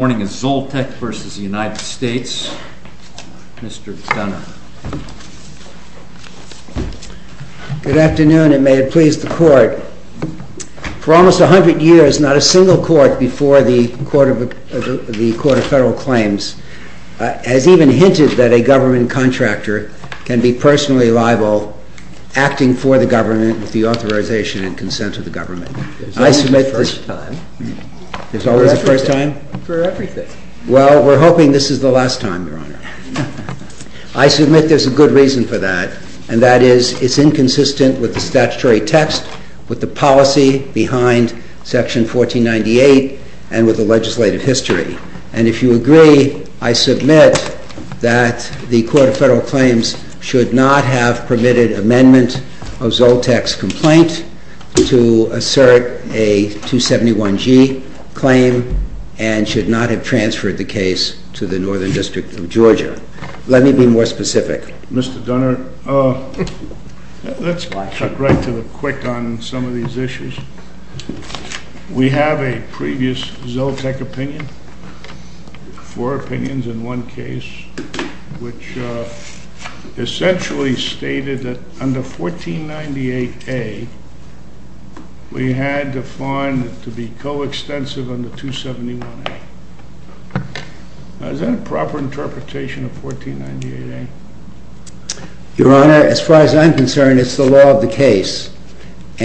Good afternoon, and may it please the Court. For almost a hundred years, not a single court before the Court of Federal Claims has even hinted that a government contractor can be personally liable, acting for the government, with the authorization and consent of the government. I submit there's a good reason for that, and that is it's inconsistent with the statutory text, with the policy behind Section 1498, and with the legislative history. And if you agree, I submit that the Court of Federal Claims should not have permitted amendment of ZOLTEK's complaint to assert a 271G claim, and should not have transferred the case to the Northern District of Georgia. Let me be more specific. Mr. Dunnard, let's cut right to the quick on some of these issues. We have a previous ZOLTEK opinion, four opinions in one case, which essentially stated that under 1498A, we had defined it to be coextensive under 271A. Is that a proper interpretation of 1498A? I don't think you answered that question, did you? You don't think I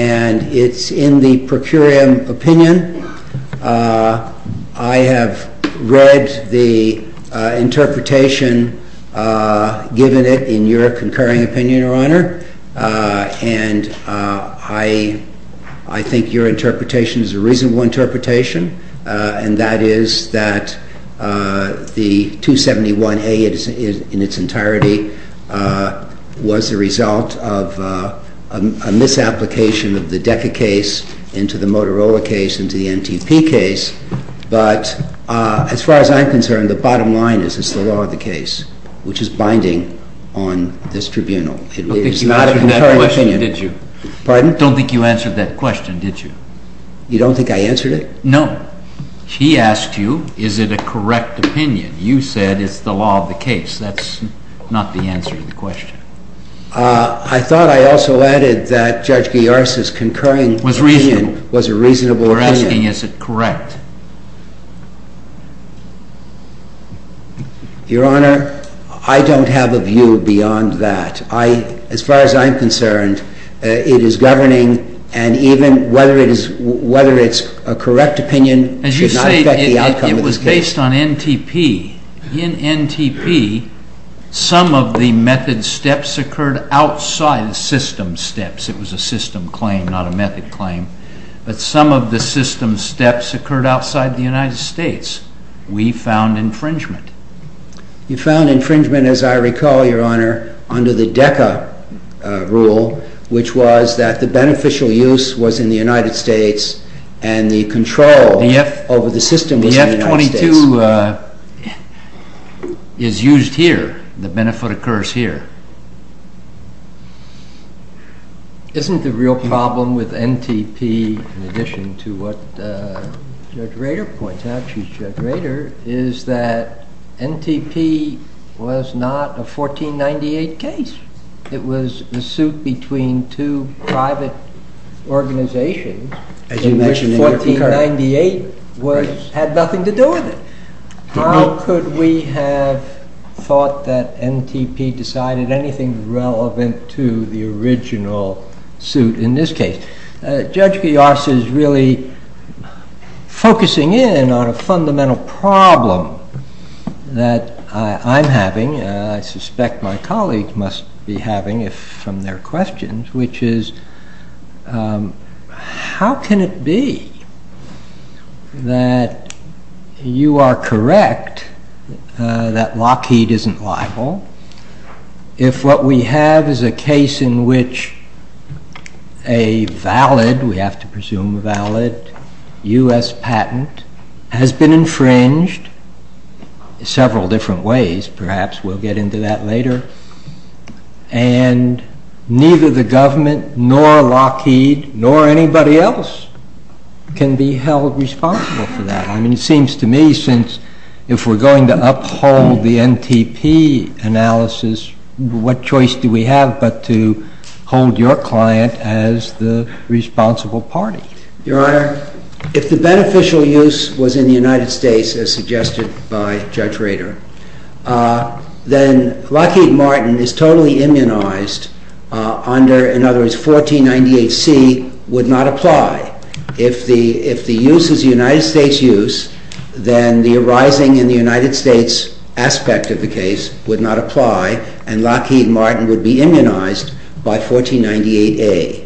answered it? No. He asked you, is it a correct opinion? You said it's the law of the case. That's not the answer to the question. I thought I also added that Judge Giorgis' concurring opinion was a reasonable opinion. We're asking, is it correct? Your Honor, I don't have a view beyond that. As far as I'm concerned, it is governing, and even whether it's a correct opinion should not affect the outcome of this case. Based on NTP, in NTP, some of the method steps occurred outside the system steps. It was a system claim, not a method claim. But some of the system steps occurred outside the United States. We found infringement. You found infringement, as I recall, Your Honor, under the DECA rule, which was that the beneficial use was in the United States, and the control over the system was in the United States. The F-22 is used here. The benefit occurs here. Isn't the real problem with NTP, in addition to what Judge Rader points out, Judge Rader, is that NTP was not a 1498 case. It was a suit between two private organizations. 1498 had nothing to do with it. How could we have thought that NTP decided anything relevant to the original suit in this case? Judge Gios is really focusing in on a fundamental problem that I'm having, and I suspect my colleagues must be having from their questions, which is, how can it be that you are correct that Lockheed isn't liable if what we have is a case in which a valid, we have to presume valid, US patent has been infringed in several different ways. Perhaps we'll get into that later. And neither the government, nor Lockheed, nor anybody else can be held responsible for that. I mean, it seems to me, since if we're going to uphold the NTP analysis, what choice do we have but to hold your client as the responsible party? Your Honor, if the beneficial use was in the United States, as suggested by Judge Rader, then Lockheed Martin is totally immunized under, in other words, 1498C would not apply. If the use is United States use, then the arising in the United States aspect of the case would not apply, and Lockheed Martin would be immunized by 1498A.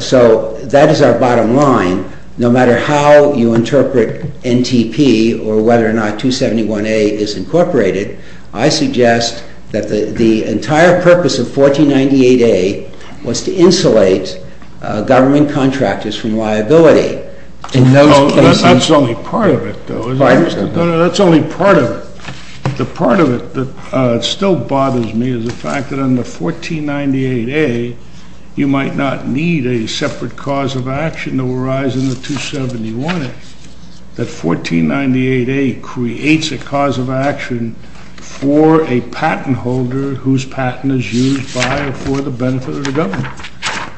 So that is our bottom line. No matter how you interpret NTP or whether or not 271A is incorporated, I suggest that the entire purpose of 1498A was to insulate government contractors from liability. That's only part of it, though. That's only part of it. The part of it that still bothers me is the fact that under 1498A, you might not need a separate cause of action to arise in the 271A. That 1498A creates a cause of action for a patent holder whose patent is used by or for the benefit of the government.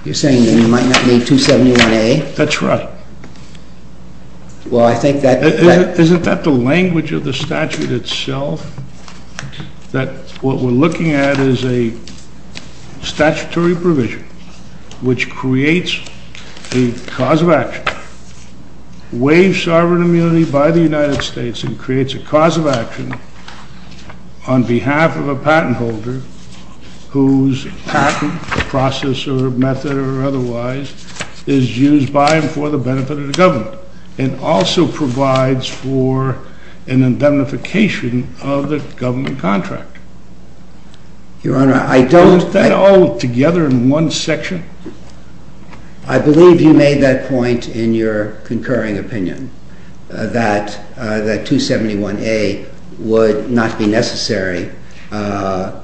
You're saying that you might not need 271A? That's right. Well, I think that... Isn't that the language of the statute itself? That what we're looking at is a statutory provision which creates a cause of action, waives sovereign immunity by the United States and creates a cause of action on behalf of a patent holder whose patent, process or method or otherwise, is used by and for the benefit of the government. And also provides for an indemnification of the government contractor. Your Honor, I don't... Isn't that all together in one section? I believe you made that point in your concurring opinion, that 271A would not be necessary under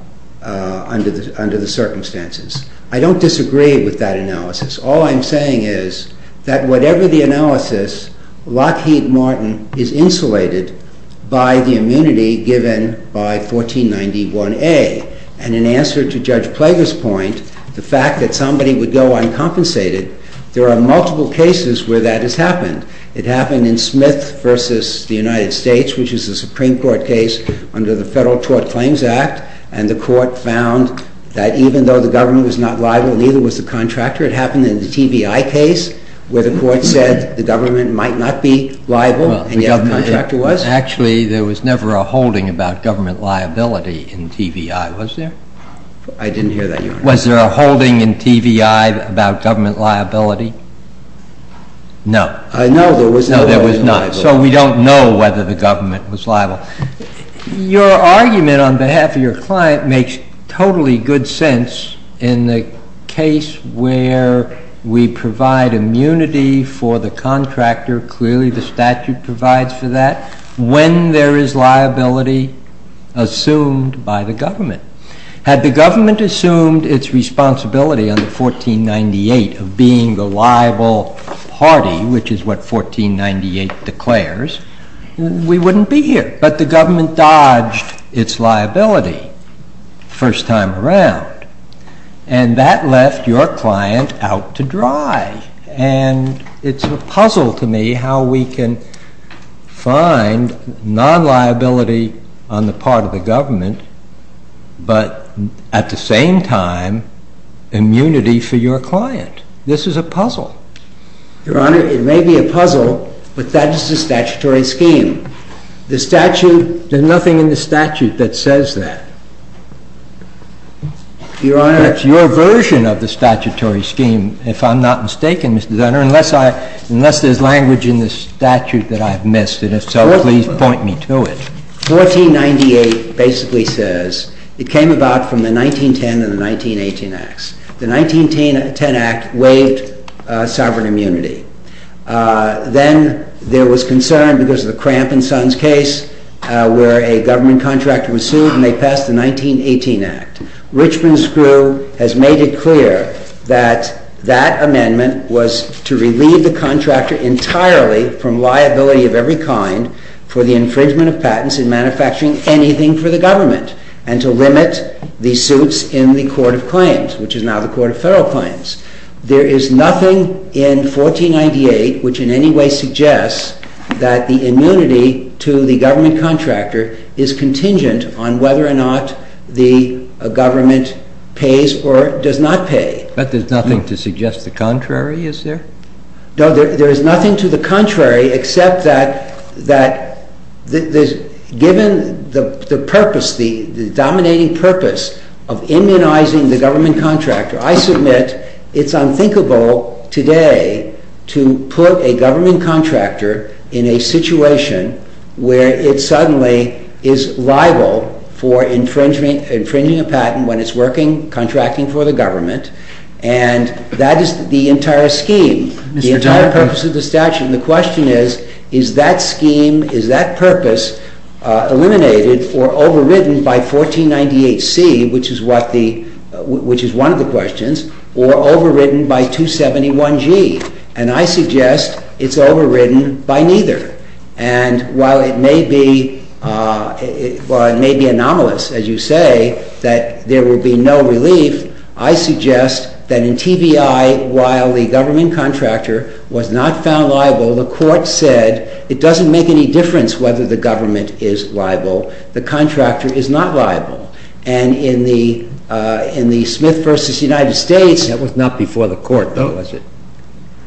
the circumstances. I don't disagree with that analysis. All I'm saying is that whatever the analysis, Lockheed Martin is insulated by the immunity given by 1491A. And in answer to Judge Plager's point, the fact that somebody would go uncompensated, there are multiple cases where that has happened. It happened in Smith v. The United States, which is a Supreme Court case under the Federal Tort Claims Act. And the court found that even though the government was not liable, neither was the contractor. It happened in the TVI case where the court said the government might not be liable and yet the contractor was. Actually, there was never a holding about government liability in TVI, was there? I didn't hear that, Your Honor. Was there a holding in TVI about government liability? No. I know there was not. No, there was not. So we don't know whether the government was liable. Your argument on behalf of your client makes totally good sense in the case where we provide immunity for the contractor, clearly the statute provides for that, when there is liability assumed by the government. Had the government assumed its responsibility under 1498 of being the liable party, which is what 1498 declares, we wouldn't be here. But the government dodged its liability the first time around, and that left your client out to dry. And it's a puzzle to me how we can find non-liability on the part of the government, but at the same time, immunity for your client. This is a puzzle. Your Honor, it may be a puzzle, but that is the statutory scheme. The statute, there's nothing in the statute that says that. Your Honor. It's your version of the statutory scheme, if I'm not mistaken, Mr. Dunner, unless there's language in the statute that I've missed. And if so, please point me to it. 1498 basically says it came about from the 1910 and the 1918 Acts. The 1910 Act waived sovereign immunity. Then there was concern because of the Cramp and Sons case, where a government contractor was sued and they passed the 1918 Act. Richmond's crew has made it clear that that amendment was to relieve the contractor entirely from liability of every kind for the infringement of patents in manufacturing anything for the government, and to limit the suits in the Court of Claims, which is now the Court of Federal Claims. There is nothing in 1498 which in any way suggests that the immunity to the government contractor is contingent on whether or not the government pays or does not pay. But there's nothing to suggest the contrary, is there? No, there is nothing to the contrary except that given the purpose, the dominating purpose of immunizing the government contractor, I submit it's unthinkable today to put a government contractor in a situation where it suddenly is liable for infringing a patent when it's working contracting for the government. And that is the entire scheme, the entire purpose of the statute. And the question is, is that scheme, is that purpose eliminated or overridden by 1498C, which is one of the questions, or overridden by 271G? And I suggest it's overridden by neither. And while it may be anomalous, as you say, that there will be no relief, I suggest that in TBI, while the government contractor was not found liable, the court said it doesn't make any difference whether the government is liable, the contractor is not liable. And in the Smith v. United States... That was not before the court, though, was it?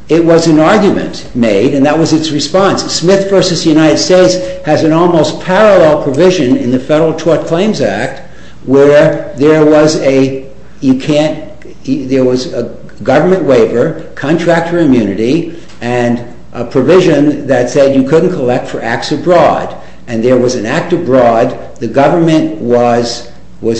It was an argument made, and that was its response. Smith v. United States has an almost parallel provision in the Federal Tort Claims Act where there was a government waiver, contractor immunity, and a provision that said you couldn't collect for acts abroad. And there was an act abroad, the government was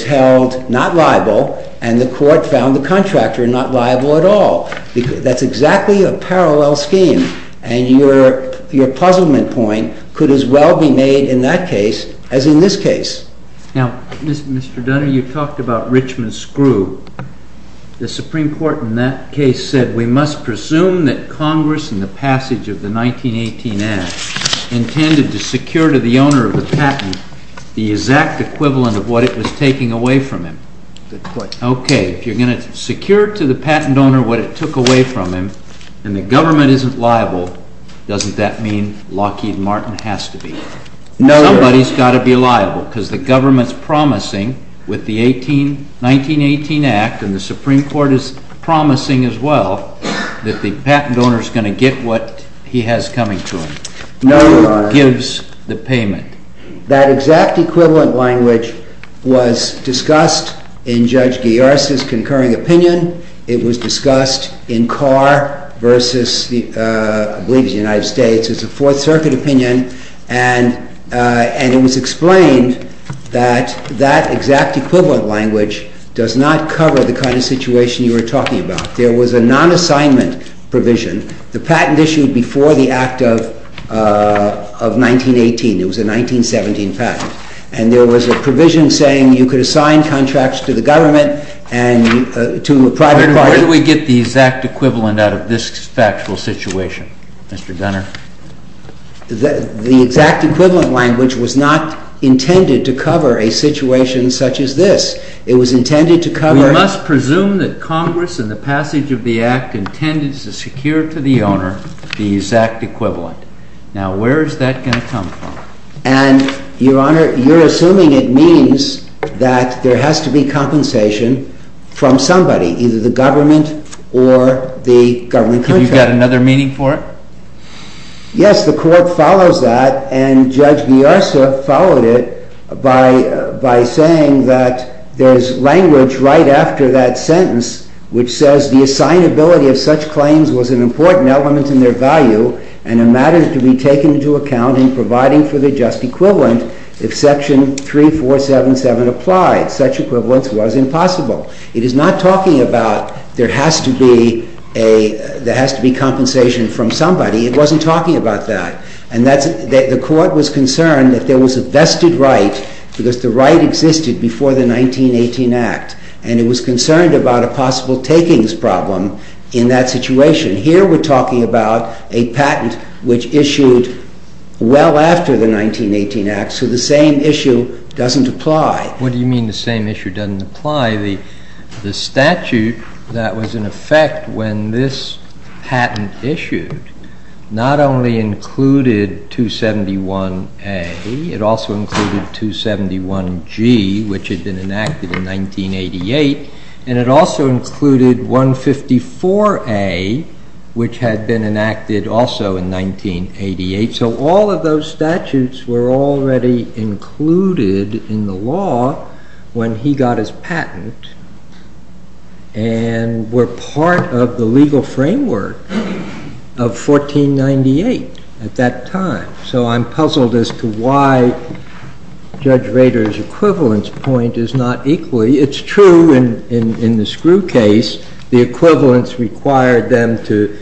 held not liable, and the court found the contractor not liable at all. That's exactly a parallel scheme, and your puzzlement point could as well be made in that case as in this case. Now, Mr. Dunner, you talked about Richmond's screw. The Supreme Court in that case said we must presume that Congress, in the passage of the 1918 Act, intended to secure to the owner of the patent the exact equivalent of what it was taking away from him. Okay, if you're going to secure to the patent owner what it took away from him, and the government isn't liable, doesn't that mean Lockheed Martin has to be? Somebody's got to be liable, because the government's promising with the 1918 Act, and the Supreme Court is promising as well, that the patent owner's going to get what he has coming to him. No, Your Honor. Who gives the payment? That exact equivalent language was discussed in Judge Guiar's concurring opinion. It was discussed in Carr versus, I believe it was the United States, it was a Fourth Circuit opinion, and it was explained that that exact equivalent language does not cover the kind of situation you were talking about. There was a non-assignment provision. The patent issued before the Act of 1918. It was a 1917 patent. And there was a provision saying you could assign contracts to the government and to a private party. Where do we get the exact equivalent out of this factual situation, Mr. Gunner? The exact equivalent language was not intended to cover a situation such as this. It was intended to cover... I must presume that Congress, in the passage of the Act, intended to secure to the owner the exact equivalent. Now, where is that going to come from? And, Your Honor, you're assuming it means that there has to be compensation from somebody, either the government or the government contract. Have you got another meaning for it? Yes, the Court follows that, and Judge Biarsa followed it by saying that there's language right after that sentence which says the assignability of such claims was an important element in their value and a matter to be taken into account in providing for the just equivalent if Section 3477 applied. Such equivalence was impossible. It is not talking about there has to be compensation from somebody. It wasn't talking about that. And the Court was concerned that there was a vested right, because the right existed before the 1918 Act, and it was concerned about a possible takings problem in that situation. Here we're talking about a patent which issued well after the 1918 Act, so the same issue doesn't apply. What do you mean the same issue doesn't apply? The statute that was in effect when this patent issued not only included 271A, it also included 271G, which had been enacted in 1988, and it also included 154A, which had been enacted also in 1988. So all of those statutes were already included in the law when he got his patent and were part of the legal framework of 1498 at that time. So I'm puzzled as to why Judge Rader's equivalence point is not equally. It's true in the Screw case, the equivalence required them to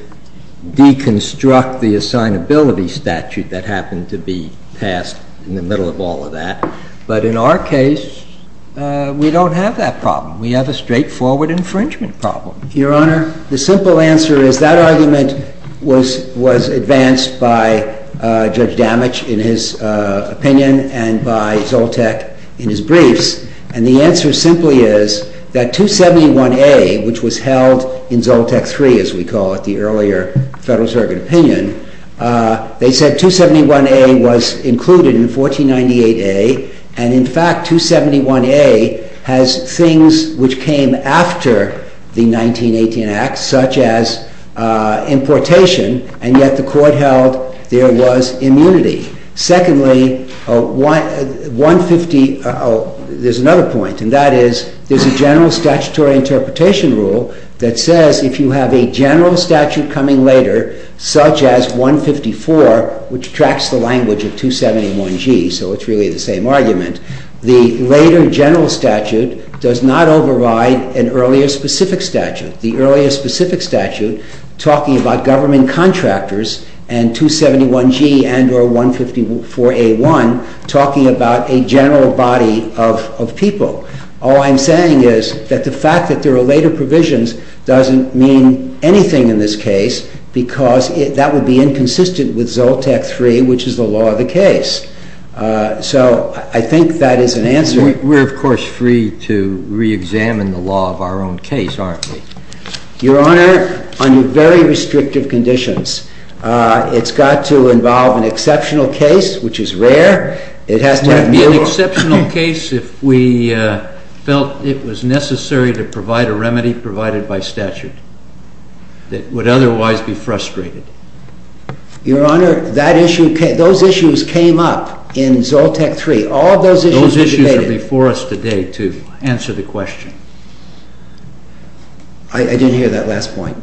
deconstruct the assignability statute that happened to be passed in the middle of all of that. But in our case, we don't have that problem. We have a straightforward infringement problem. Your Honor, the simple answer is that argument was advanced by Judge Damich in his opinion and by Zoltek in his briefs. And the answer simply is that 271A, which was held in Zoltek 3, as we call it, the earlier Federal Circuit opinion, they said 271A was included in 1498A, and in fact 271A has things which came after the 1918 Act, such as importation, and yet the Court held there was immunity. Secondly, there's another point, and that is there's a general statutory interpretation rule that says if you have a general statute coming later, such as 154, which tracks the language of 271G, so it's really the same argument, the later general statute does not override an earlier specific statute. The earlier specific statute talking about government contractors and 271G and or 154A1 talking about a general body of people. All I'm saying is that the fact that there are later provisions doesn't mean anything in this case because that would be inconsistent with Zoltek 3, which is the law of the case. So I think that is an answer. We're, of course, free to reexamine the law of our own case, aren't we? Your Honor, under very restrictive conditions. It's got to involve an exceptional case, which is rare. It has to be an exceptional case if we felt it was necessary to provide a remedy provided by statute that would otherwise be frustrated. Your Honor, those issues came up in Zoltek 3. All of those issues were debated. Those issues are before us today, too. Answer the question. I didn't hear that last point.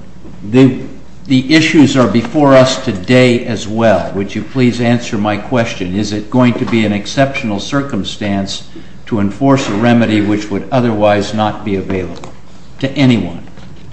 The issues are before us today as well. Would you please answer my question? Is it going to be an exceptional circumstance to enforce a remedy which would otherwise not be available to anyone?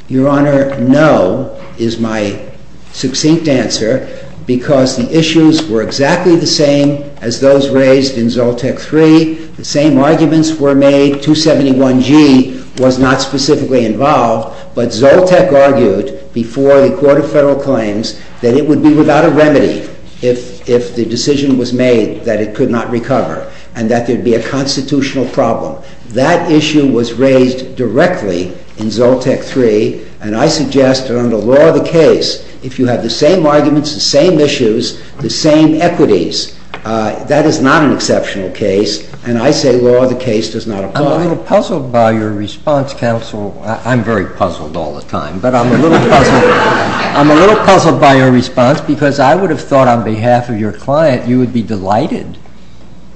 Your Honor, no is my succinct answer because the issues were exactly the same as those raised in Zoltek 3. The same arguments were made. 271G was not specifically involved, but Zoltek argued before the Court of Federal Claims that it would be without a remedy if the decision was made that it could not recover and that there would be a constitutional problem. That issue was raised directly in Zoltek 3, and I suggest that under law of the case, if you have the same arguments, the same issues, the same equities, that is not an exceptional case. And I say law of the case does not apply. I'm a little puzzled by your response, counsel. I'm very puzzled all the time. But I'm a little puzzled by your response because I would have thought on behalf of your client you would be delighted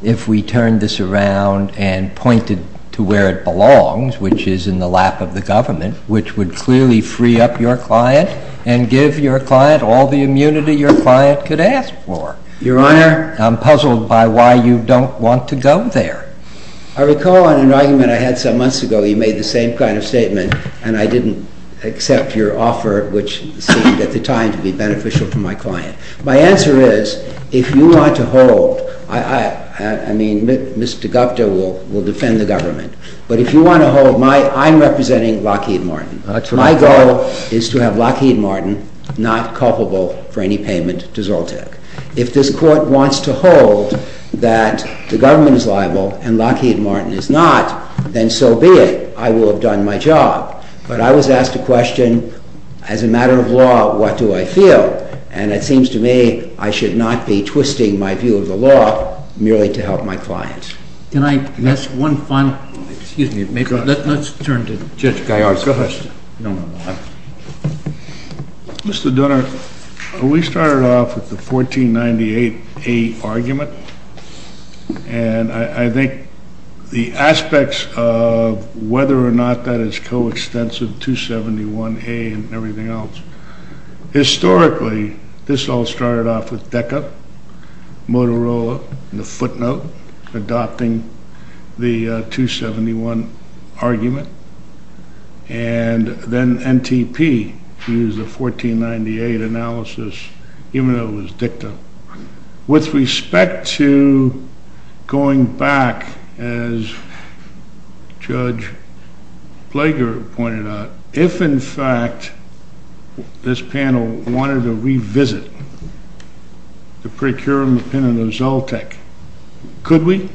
if we turned this around and pointed to where it belongs, which is in the lap of the government, which would clearly free up your client and give your client all the immunity your client could ask for. Your Honor? I'm puzzled by why you don't want to go there. I recall an argument I had some months ago. You made the same kind of statement, and I didn't accept your offer, which seemed at the time to be beneficial to my client. My answer is, if you want to hold, I mean, Mr. Gupta will defend the government, but if you want to hold, I'm representing Lockheed Martin. My goal is to have Lockheed Martin not culpable for any payment to Zoltek. If this court wants to hold that the government is liable and Lockheed Martin is not, then so be it. I will have done my job. But I was asked a question, as a matter of law, what do I feel? And it seems to me I should not be twisting my view of the law merely to help my client. Can I ask one final question? Excuse me. Let's turn to Judge Gaiard. Go ahead. Mr. Donner, we started off with the 1498A argument, and I think the aspects of whether or not that is coextensive, 271A and everything else, historically this all started off with DECA, Motorola, and the footnote adopting the 271 argument, and then NTP used the 1498 analysis, even though it was dicta. With respect to going back, as Judge Blager pointed out, if, in fact, this panel wanted to revisit the procurement of Zoltek, could we?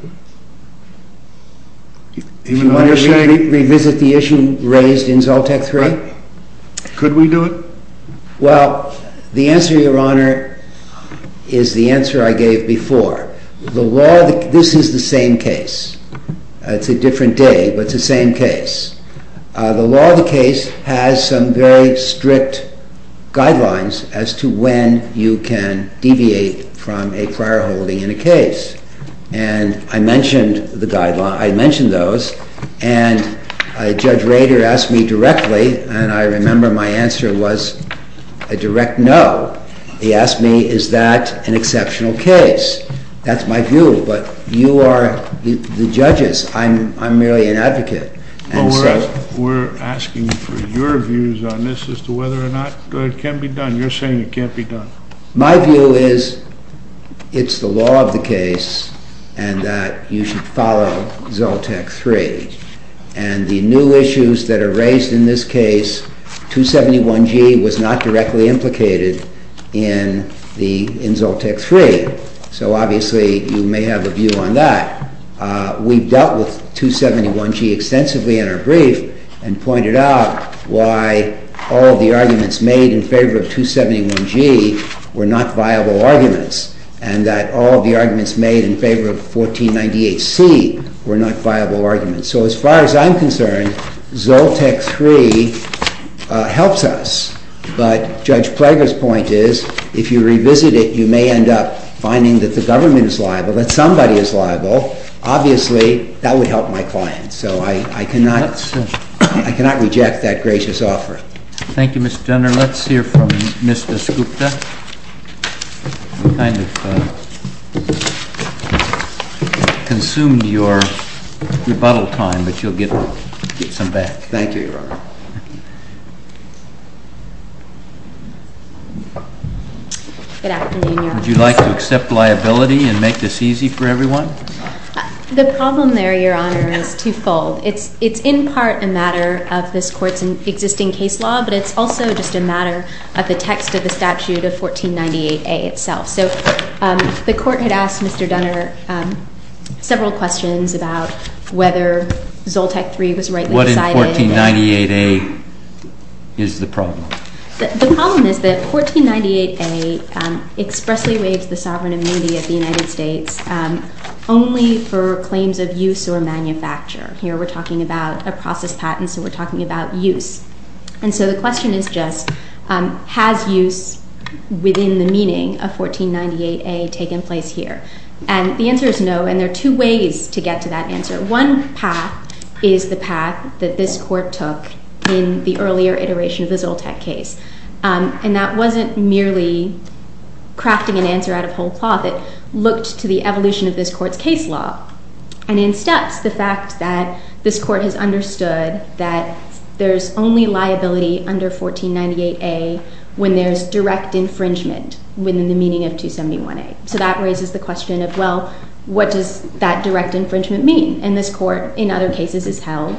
If you want to revisit the issue raised in Zoltek 3? Could we do it? Well, the answer, Your Honor, is the answer I gave before. This is the same case. It's a different day, but it's the same case. The law of the case has some very strict guidelines as to when you can deviate from a prior holding in a case. And I mentioned those, and Judge Rader asked me directly, and I remember my answer was a direct no. He asked me, is that an exceptional case? That's my view, but you are the judges. I'm merely an advocate. Well, we're asking for your views on this as to whether or not it can be done. You're saying it can't be done. My view is it's the law of the case and that you should follow Zoltek 3. And the new issues that are raised in this case, 271G was not directly implicated in Zoltek 3, so obviously you may have a view on that. We've dealt with 271G extensively in our brief and pointed out why all of the arguments made in favor of 271G were not viable arguments and that all of the arguments made in favor of 1498C were not viable arguments. So as far as I'm concerned, Zoltek 3 helps us. But Judge Prager's point is if you revisit it, you may end up finding that the government is liable, that somebody is liable. Obviously, that would help my clients, so I cannot reject that gracious offer. Thank you, Mr. Jenner. Let's hear from Mr. Skupta. You kind of consumed your rebuttal time, but you'll get some back. Thank you, Your Honor. Good afternoon, Your Honor. Would you like to accept liability and make this easy for everyone? The problem there, Your Honor, is twofold. It's in part a matter of this Court's existing case law, but it's also just a matter of the text of the statute of 1498A itself. So the Court had asked Mr. Dunner several questions about whether Zoltek 3 was rightly decided. What in 1498A is the problem? The problem is that 1498A expressly waives the sovereign immunity of the United States only for claims of use or manufacture. Here we're talking about a process patent, so we're talking about use. And so the question is just has use within the meaning of 1498A taken place here? And the answer is no, and there are two ways to get to that answer. One path is the path that this Court took in the earlier iteration of the Zoltek case, and that wasn't merely crafting an answer out of whole cloth. It looked to the evolution of this Court's case law and in steps the fact that this Court has understood that there's only liability under 1498A when there's direct infringement within the meaning of 271A. So that raises the question of, well, what does that direct infringement mean? And this Court, in other cases, has held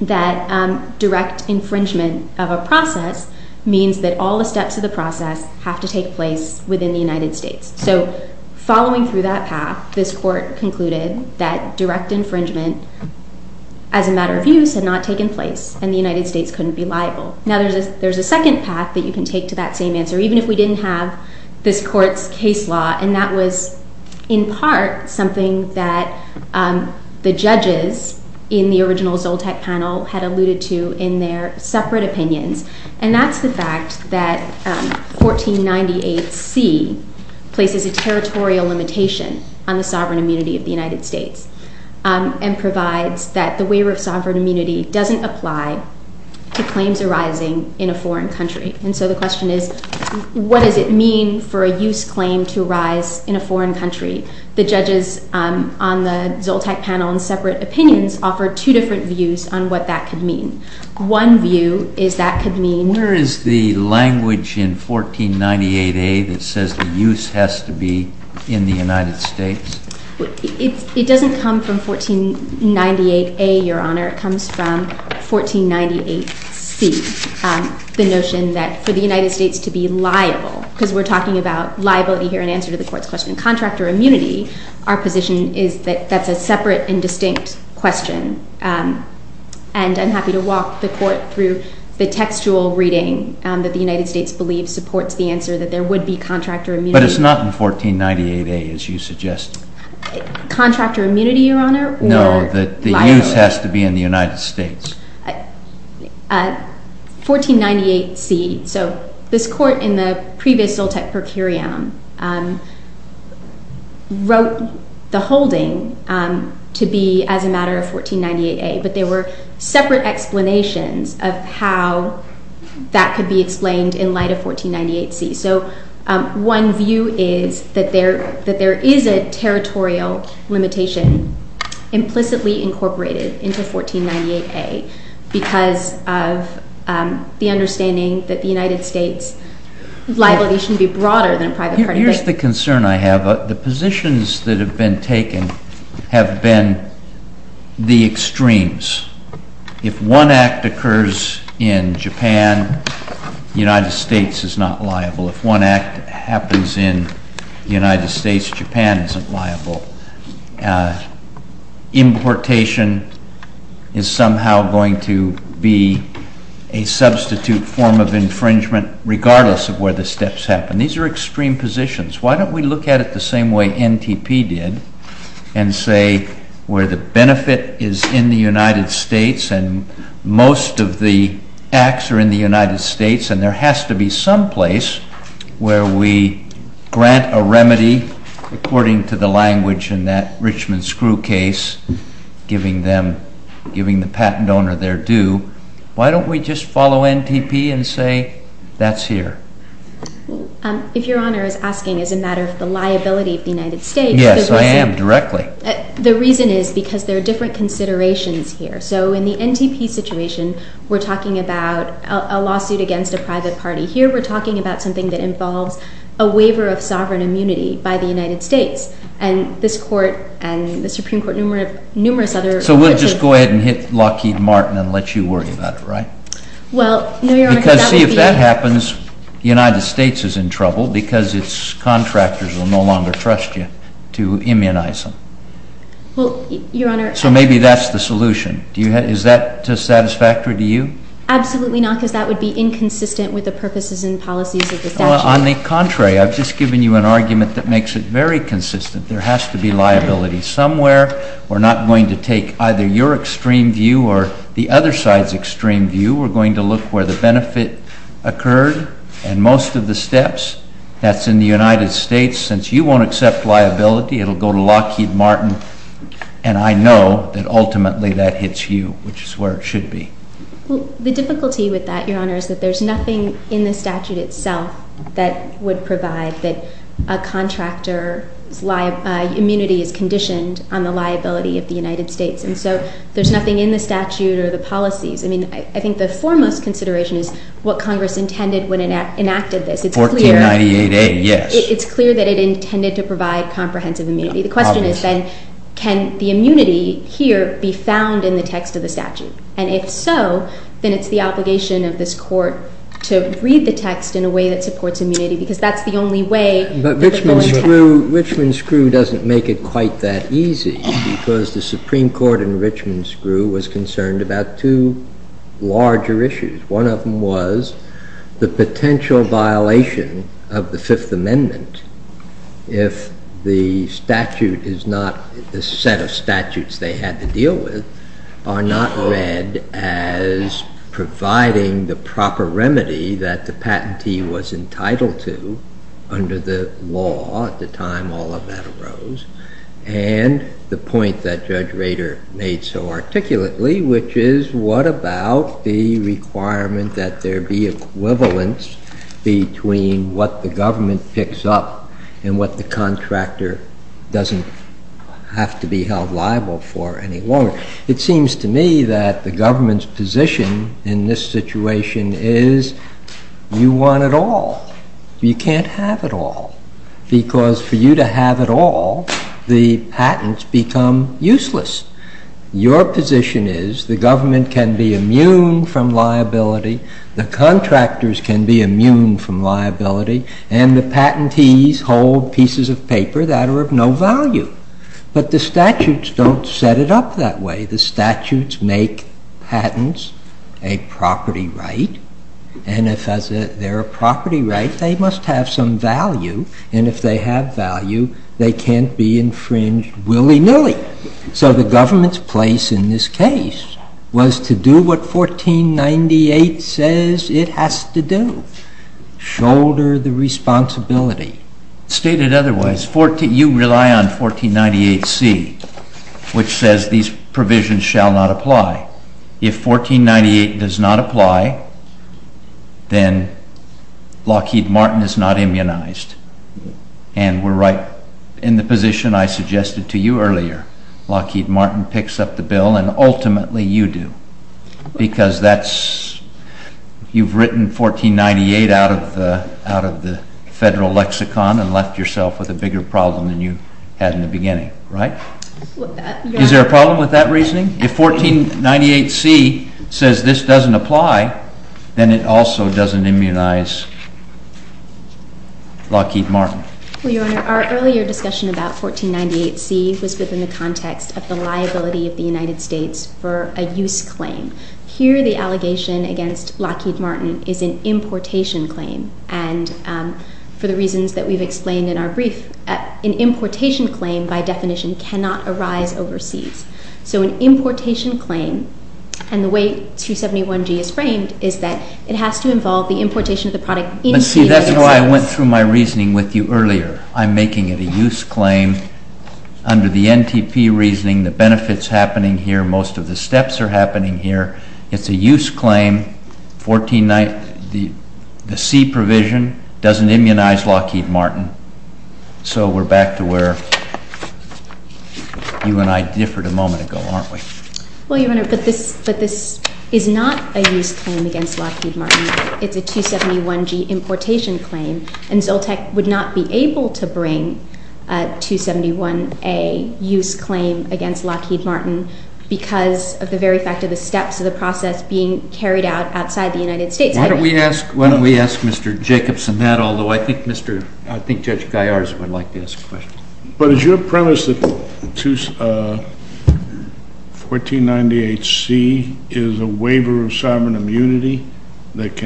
that direct infringement of a process means that all the steps of the process have to take place within the United States. So following through that path, this Court concluded that direct infringement as a matter of use had not taken place, and the United States couldn't be liable. Now, there's a second path that you can take to that same answer, even if we didn't have this Court's case law, and that was in part something that the judges in the original Zoltek panel had alluded to in their separate opinions, and that's the fact that 1498C places a territorial limitation on the sovereign immunity of the United States and provides that the waiver of sovereign immunity doesn't apply to claims arising in a foreign country. And so the question is, what does it mean for a use claim to arise in a foreign country? The judges on the Zoltek panel in separate opinions offered two different views on what that could mean. One view is that could mean— Where is the language in 1498A that says the use has to be in the United States? It doesn't come from 1498A, Your Honor. It comes from 1498C, the notion that for the United States to be liable, because we're talking about liability here in answer to the Court's question of contractor immunity, our position is that that's a separate and distinct question, and I'm happy to walk the Court through the textual reading that the United States believes supports the answer that there would be contractor immunity. But it's not in 1498A, as you suggested. Contractor immunity, Your Honor? No, that the use has to be in the United States. 1498C, so this Court in the previous Zoltek per curiam wrote the holding to be as a matter of 1498A, but there were separate explanations of how that could be explained in light of 1498C. So one view is that there is a territorial limitation implicitly incorporated into 1498A because of the understanding that the United States' liability should be broader than a private party. Here's the concern I have. The positions that have been taken have been the extremes. If one act occurs in Japan, the United States is not liable. If one act happens in the United States, Japan isn't liable. Importation is somehow going to be a substitute form of infringement regardless of where the steps happen. These are extreme positions. Why don't we look at it the same way NTP did and say where the benefit is in the United States and most of the acts are in the United States and there has to be some place where we grant a remedy according to the language in that Richmond Screw case, giving the patent owner their due. Why don't we just follow NTP and say that's here? If Your Honor is asking as a matter of the liability of the United States... Yes, I am, directly. The reason is because there are different considerations here. So in the NTP situation, we're talking about a lawsuit against a private party. Here we're talking about something that involves a waiver of sovereign immunity by the United States and this court and the Supreme Court, numerous other... So we'll just go ahead and hit Lockheed Martin and let you worry about it, right? Well, no, Your Honor, that would be... Because see if that happens, the United States is in trouble because its contractors will no longer trust you to immunize them. Well, Your Honor... So maybe that's the solution. Is that satisfactory to you? Absolutely not because that would be inconsistent with the purposes and policies of the statute. On the contrary, I've just given you an argument that makes it very consistent. There has to be liability somewhere. We're not going to take either your extreme view or the other side's extreme view. We're going to look where the benefit occurred and most of the steps. That's in the United States. Since you won't accept liability, it will go to Lockheed Martin, and I know that ultimately that hits you, which is where it should be. The difficulty with that, Your Honor, is that there's nothing in the statute itself that would provide that a contractor's immunity is conditioned on the liability of the United States. And so there's nothing in the statute or the policies. I mean, I think the foremost consideration is what Congress intended when it enacted this. 1498A, yes. It's clear that it intended to provide comprehensive immunity. The question is then, can the immunity here be found in the text of the statute? And if so, then it's the obligation of this court to read the text in a way that supports immunity because that's the only way that the bill would pass. But Richmond Screw doesn't make it quite that easy because the Supreme Court in Richmond Screw was concerned about two larger issues. One of them was the potential violation of the Fifth Amendment if the statute is not the set of statutes they had to deal with are not read as providing the proper remedy that the patentee was entitled to under the law. At the time, all of that arose. And the point that Judge Rader made so articulately, which is what about the requirement that there be equivalence between what the government picks up and what the contractor doesn't have to be held liable for any longer. It seems to me that the government's position in this situation is you want it all. You can't have it all. Because for you to have it all, the patents become useless. Your position is the government can be immune from liability. The contractors can be immune from liability. And the patentees hold pieces of paper that are of no value. But the statutes don't set it up that way. The statutes make patents a property right. And if they're a property right, they must have some value. And if they have value, they can't be infringed willy-nilly. So the government's place in this case was to do what 1498 says it has to do, shoulder the responsibility. It's stated otherwise. You rely on 1498C, which says these provisions shall not apply. If 1498 does not apply, then Lockheed Martin is not immunized. And we're right in the position I suggested to you earlier. Lockheed Martin picks up the bill, and ultimately you do. Because you've written 1498 out of the federal lexicon and left yourself with a bigger problem than you had in the beginning, right? Is there a problem with that reasoning? If 1498C says this doesn't apply, then it also doesn't immunize Lockheed Martin. Well, Your Honor, our earlier discussion about 1498C was within the context of the liability of the United States for a use claim. Here the allegation against Lockheed Martin is an importation claim. And for the reasons that we've explained in our brief, an importation claim by definition cannot arise overseas. So an importation claim, and the way 271G is framed, is that it has to involve the importation of the product into the United States. But see, that's why I went through my reasoning with you earlier. I'm making it a use claim under the NTP reasoning. The benefit's happening here. Most of the steps are happening here. It's a use claim. The C provision doesn't immunize Lockheed Martin. So we're back to where you and I differed a moment ago, aren't we? Well, Your Honor, but this is not a use claim against Lockheed Martin. It's a 271G importation claim. And Zoltec would not be able to bring 271A use claim against Lockheed Martin because of the very fact of the steps of the process being carried out outside the United States. Why don't we ask Mr. Jacobson that? Although I think Judge Gaillard would like to ask a question. But is your premise that 1498C is a waiver of sovereign immunity that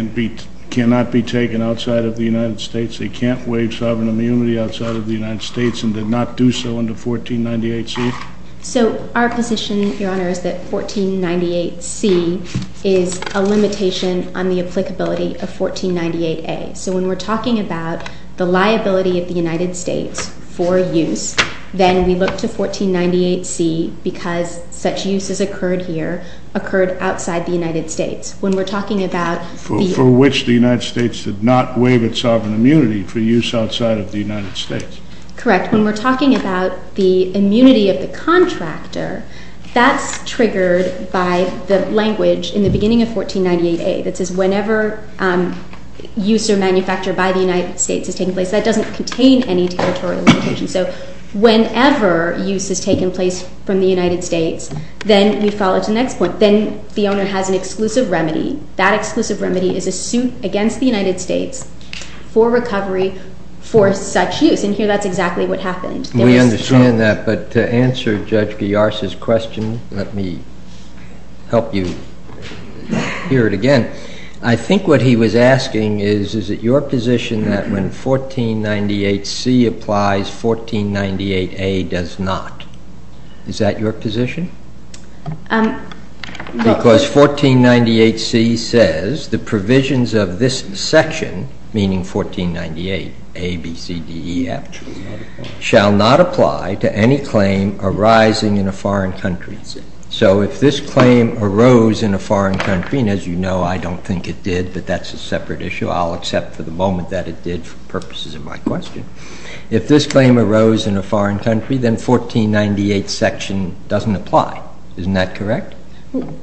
cannot be taken outside of the United States? They can't waive sovereign immunity outside of the United States and did not do so under 1498C? So our position, Your Honor, is that 1498C is a limitation on the applicability of 1498A. So when we're talking about the liability of the United States for use, then we look to 1498C because such use has occurred here, occurred outside the United States. When we're talking about the— For which the United States did not waive its sovereign immunity for use outside of the United States. Correct. When we're talking about the immunity of the contractor, that's triggered by the language in the beginning of 1498A that says whenever use or manufacture by the United States is taking place. That doesn't contain any territorial limitation. So whenever use has taken place from the United States, then we follow to the next point. Then the owner has an exclusive remedy. That exclusive remedy is a suit against the United States for recovery for such use. And here that's exactly what happened. We understand that, but to answer Judge Guiars' question, let me help you hear it again. I think what he was asking is, is it your position that when 1498C applies, 1498A does not? Is that your position? Because 1498C says the provisions of this section, meaning 1498A, B, C, D, E, F, shall not apply to any claim arising in a foreign country. So if this claim arose in a foreign country, and as you know, I don't think it did, but that's a separate issue. I'll accept for the moment that it did for purposes of my question. If this claim arose in a foreign country, then 1498 section doesn't apply. Isn't that correct?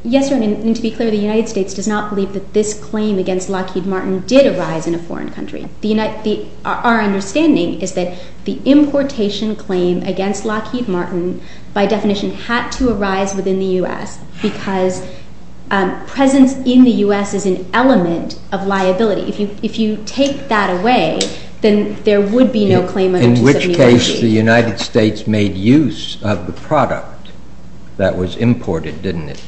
Yes, Your Honor, and to be clear, the United States does not believe that this claim against Lockheed Martin did arise in a foreign country. Our understanding is that the importation claim against Lockheed Martin, by definition, had to arise within the U.S. because presence in the U.S. is an element of liability. If you take that away, then there would be no claim under 1793. In which case, the United States made use of the product that was imported, didn't it?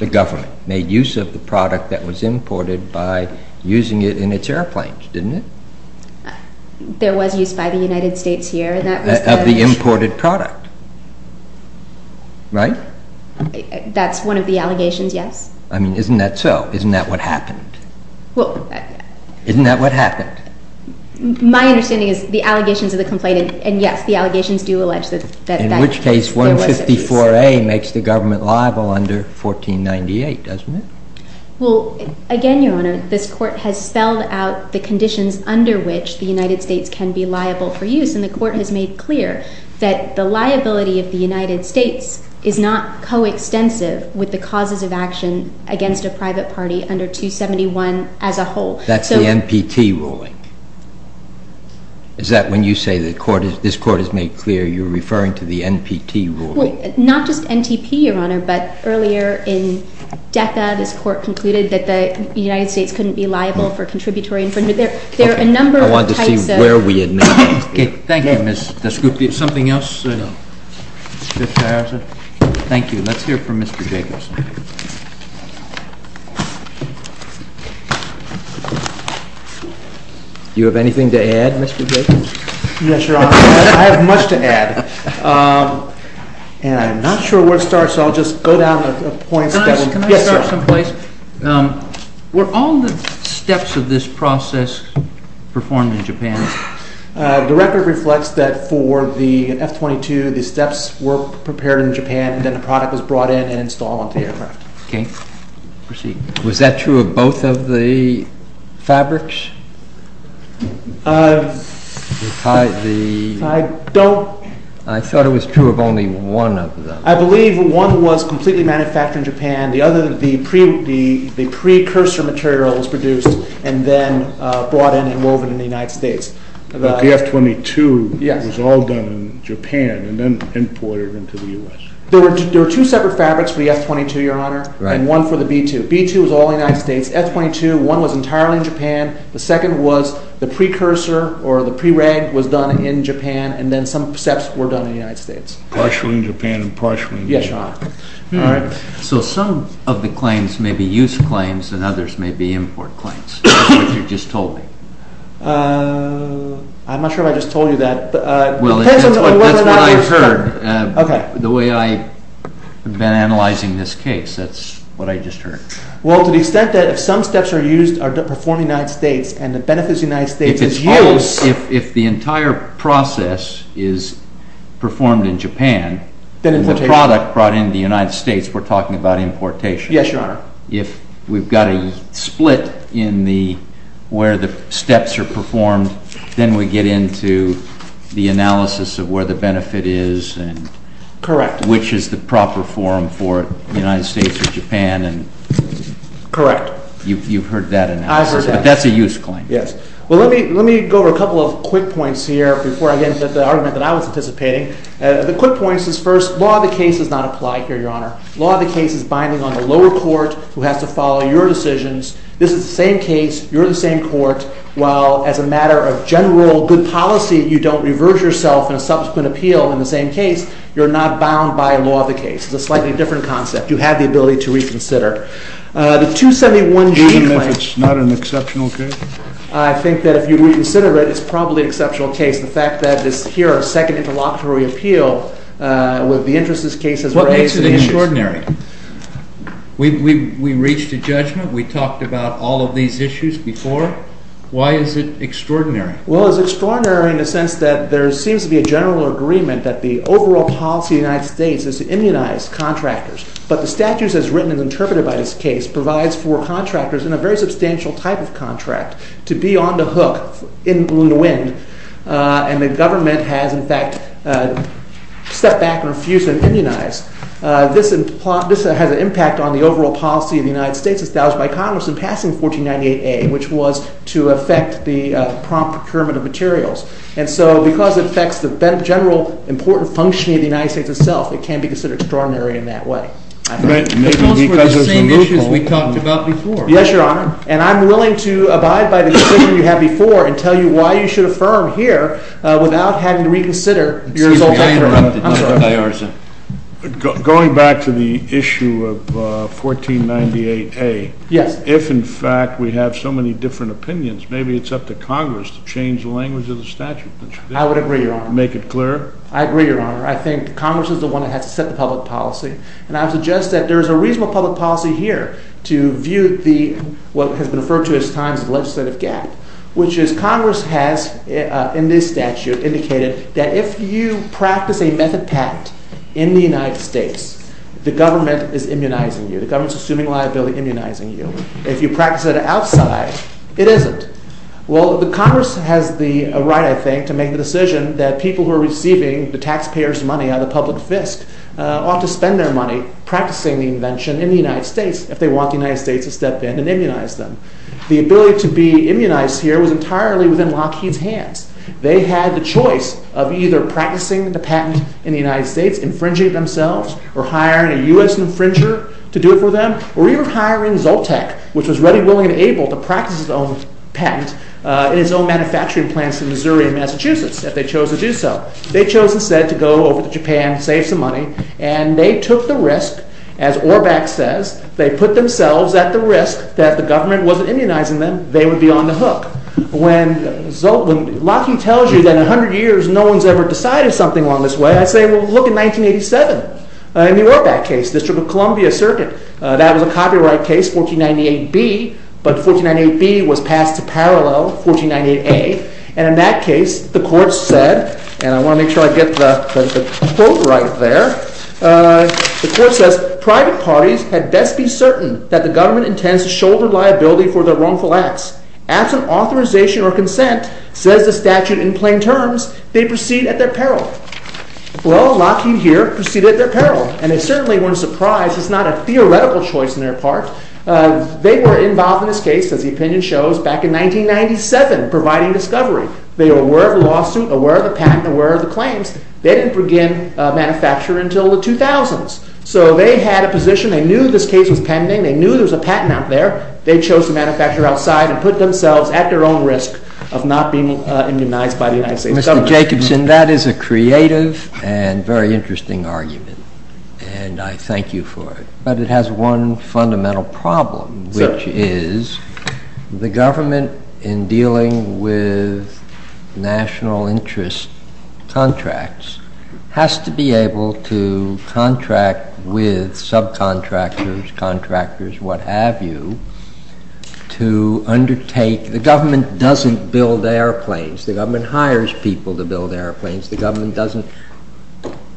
The government made use of the product that was imported by using it in its airplanes, didn't it? There was use by the United States here. Of the imported product, right? That's one of the allegations, yes. I mean, isn't that so? Isn't that what happened? Isn't that what happened? My understanding is the allegations of the complaint, and yes, the allegations do allege that that was the case. In which case, 154A makes the government liable under 1498, doesn't it? Well, again, Your Honor, this Court has spelled out the conditions under which the United States can be liable for use, and the Court has made clear that the liability of the United States is not coextensive with the causes of action against a private party under 271 as a whole. That's the NPT ruling? Is that when you say this Court has made clear you're referring to the NPT ruling? Well, not just NTP, Your Honor, but earlier in DECA, this Court concluded that the United States couldn't be liable for contributory infringement. There are a number of types of... I want to see where we admit that. Thank you, Ms. Dasgupia. Is there something else, Mr. Harris? No. Thank you. Let's hear from Mr. Jacobson. Do you have anything to add, Mr. Jacobson? Yes, Your Honor. I have much to add, and I'm not sure where to start, so I'll just go down a point. Can I start someplace? Were all the steps of this process performed in Japan? The record reflects that for the F-22, the steps were prepared in Japan, and then the product was brought in and installed onto the aircraft. Okay. Proceed. Was that true of both of the fabrics? I don't... I thought it was true of only one of them. I believe one was completely manufactured in Japan. The other, the precursor material was produced and then brought in and woven in the United States. But the F-22 was all done in Japan and then imported into the U.S.? There were two separate fabrics for the F-22, Your Honor, and one for the B-2. B-2 was all in the United States. F-22, one was entirely in Japan. The second was the precursor, or the pre-reg, was done in Japan, and then some steps were done in the United States. Partially in Japan and partially in the U.S.? Yes, Your Honor. All right. So some of the claims may be use claims and others may be import claims. That's what you just told me. I'm not sure if I just told you that. Well, that's what I've heard. Okay. The way I've been analyzing this case, that's what I just heard. Well, to the extent that if some steps are used, are performed in the United States, and the benefit to the United States is use... Then importation. ...the product brought into the United States, we're talking about importation. Yes, Your Honor. If we've got a split in where the steps are performed, then we get into the analysis of where the benefit is and... Correct. ...which is the proper form for the United States or Japan and... Correct. You've heard that analysis. I've heard that. But that's a use claim. Yes. Well, let me go over a couple of quick points here before I get into the argument that I was anticipating. The quick point is first, law of the case does not apply here, Your Honor. Law of the case is binding on the lower court who has to follow your decisions. This is the same case. You're in the same court. Well, as a matter of general good policy, you don't reverse yourself in a subsequent appeal in the same case. You're not bound by law of the case. It's a slightly different concept. You have the ability to reconsider. The 271G claim... Do you mean if it's not an exceptional case? I think that if you reconsider it, it's probably an exceptional case. The fact that it's here a second interlocutory appeal with the interest this case has raised... What makes it extraordinary? We reached a judgment. We talked about all of these issues before. Why is it extraordinary? Well, it's extraordinary in the sense that there seems to be a general agreement that the overall policy of the United States is to immunize contractors. But the statutes as written and interpreted by this case provides for contractors in a very substantial type of contract to be on the hook, in the wind, and the government has, in fact, stepped back and refused to immunize. This has an impact on the overall policy of the United States established by Congress in passing 1498A, which was to affect the prompt procurement of materials. And so, because it affects the general important functioning of the United States itself, it can be considered extraordinary in that way. It goes for the same issues we talked about before. Yes, Your Honor. And I'm willing to abide by the decision you had before and tell you why you should affirm here without having to reconsider. Excuse me, I interrupted. I'm sorry. Going back to the issue of 1498A, if, in fact, we have so many different opinions, maybe it's up to Congress to change the language of the statute. I would agree, Your Honor. To make it clearer? I agree, Your Honor. I think Congress is the one that has to set the public policy. And I would suggest that there is a reasonable public policy here to view what has been referred to as times of legislative gap, which is Congress has, in this statute, indicated that if you practice a method patent in the United States, the government is immunizing you. The government is assuming liability, immunizing you. If you practice it outside, it isn't. Well, Congress has the right, I think, to make the decision that people who are receiving the taxpayers' money on the public fisc ought to spend their money practicing the invention in the United States if they want the United States to step in and immunize them. The ability to be immunized here was entirely within Lockheed's hands. They had the choice of either practicing the patent in the United States, infringing it themselves, or hiring a U.S. infringer to do it for them, or even hiring Zoltech, which was ready, willing, and able to practice its own patent in its own manufacturing plants in Missouri and Massachusetts if they chose to do so. They chose instead to go over to Japan, save some money, and they took the risk. As Orbach says, they put themselves at the risk that if the government wasn't immunizing them, they would be on the hook. When Lockheed tells you that in 100 years no one has ever decided something along this way, I say, well, look at 1987. In the Orbach case, District of Columbia Circuit, that was a copyright case, 1498B, but 1498B was passed to parallel 1498A, and in that case the court said, and I want to make sure I get the quote right there, the court says, private parties had best be certain that the government intends to shoulder liability for their wrongful acts. Absent authorization or consent, says the statute in plain terms, they proceed at their peril. Well, Lockheed here proceeded at their peril, and they certainly weren't surprised. It's not a theoretical choice on their part. They were involved in this case, as the opinion shows, back in 1997, providing discovery. They were aware of the lawsuit, aware of the patent, aware of the claims. They didn't begin manufacturing until the 2000s, so they had a position. They knew this case was pending. They knew there was a patent out there. They chose to manufacture outside and put themselves at their own risk of not being immunized by the United States government. Mr. Jacobson, that is a creative and very interesting argument, and I thank you for it. But it has one fundamental problem, which is the government, in dealing with national interest contracts, has to be able to contract with subcontractors, contractors, what have you, to undertake. The government doesn't build airplanes. The government hires people to build airplanes. The government doesn't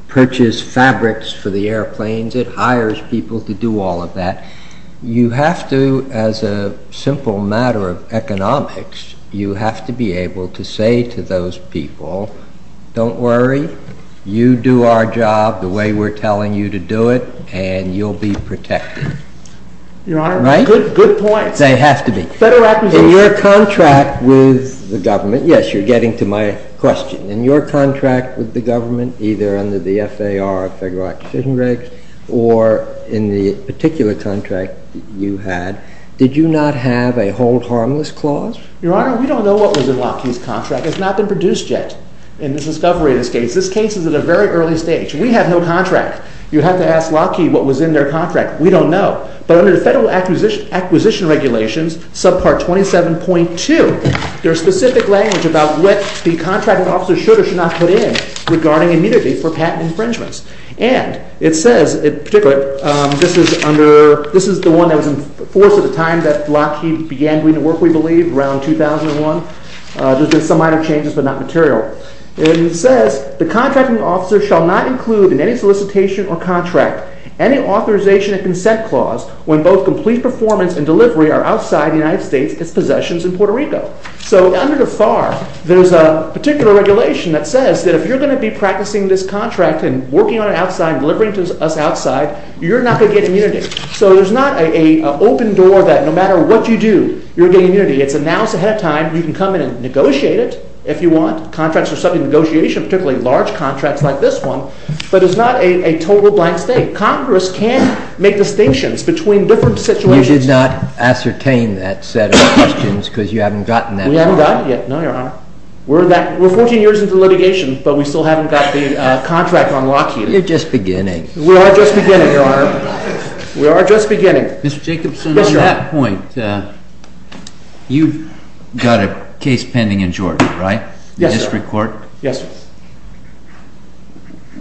purchase fabrics for the airplanes. It hires people to do all of that. You have to, as a simple matter of economics, you have to be able to say to those people, don't worry, you do our job the way we're telling you to do it, and you'll be protected. Your Honor, good points. They have to be. In your contract with the government, yes, you're getting to my question. In your contract with the government, either under the FAR or Federal Acquisition Regs, or in the particular contract that you had, did you not have a hold harmless clause? Your Honor, we don't know what was in Lockheed's contract. It's not been produced yet in this discovery in this case. This case is at a very early stage. We have no contract. You'd have to ask Lockheed what was in their contract. We don't know. But under the Federal Acquisition Regulations, subpart 27.2, there is specific language about what the contracting officer should or should not put in regarding immunity for patent infringements. And it says, in particular, this is the one that was in force at the time that Lockheed began doing the work, we believe, around 2001. There's been some minor changes, but not material. It says, the contracting officer shall not include in any solicitation or contract any authorization and consent clause when both complete performance and delivery are outside the United States, its possessions in Puerto Rico. So under the FAR, there's a particular regulation that says that if you're going to be practicing this contract and working on it outside and delivering to us outside, you're not going to get immunity. So there's not an open door that no matter what you do, you're getting immunity. It's announced ahead of time. You can come in and negotiate it if you want. Contracts are subject to negotiation, particularly large contracts like this one. But it's not a total blank state. Congress can make distinctions between different situations. You did not ascertain that set of questions because you haven't gotten that far. We haven't gotten it yet, no, Your Honor. We're 14 years into litigation, but we still haven't got the contract on Lockheed. You're just beginning. We are just beginning, Your Honor. We are just beginning. Mr. Jacobson, at that point, you've got a case pending in Georgia, right? Yes, sir. The district court? Yes, sir.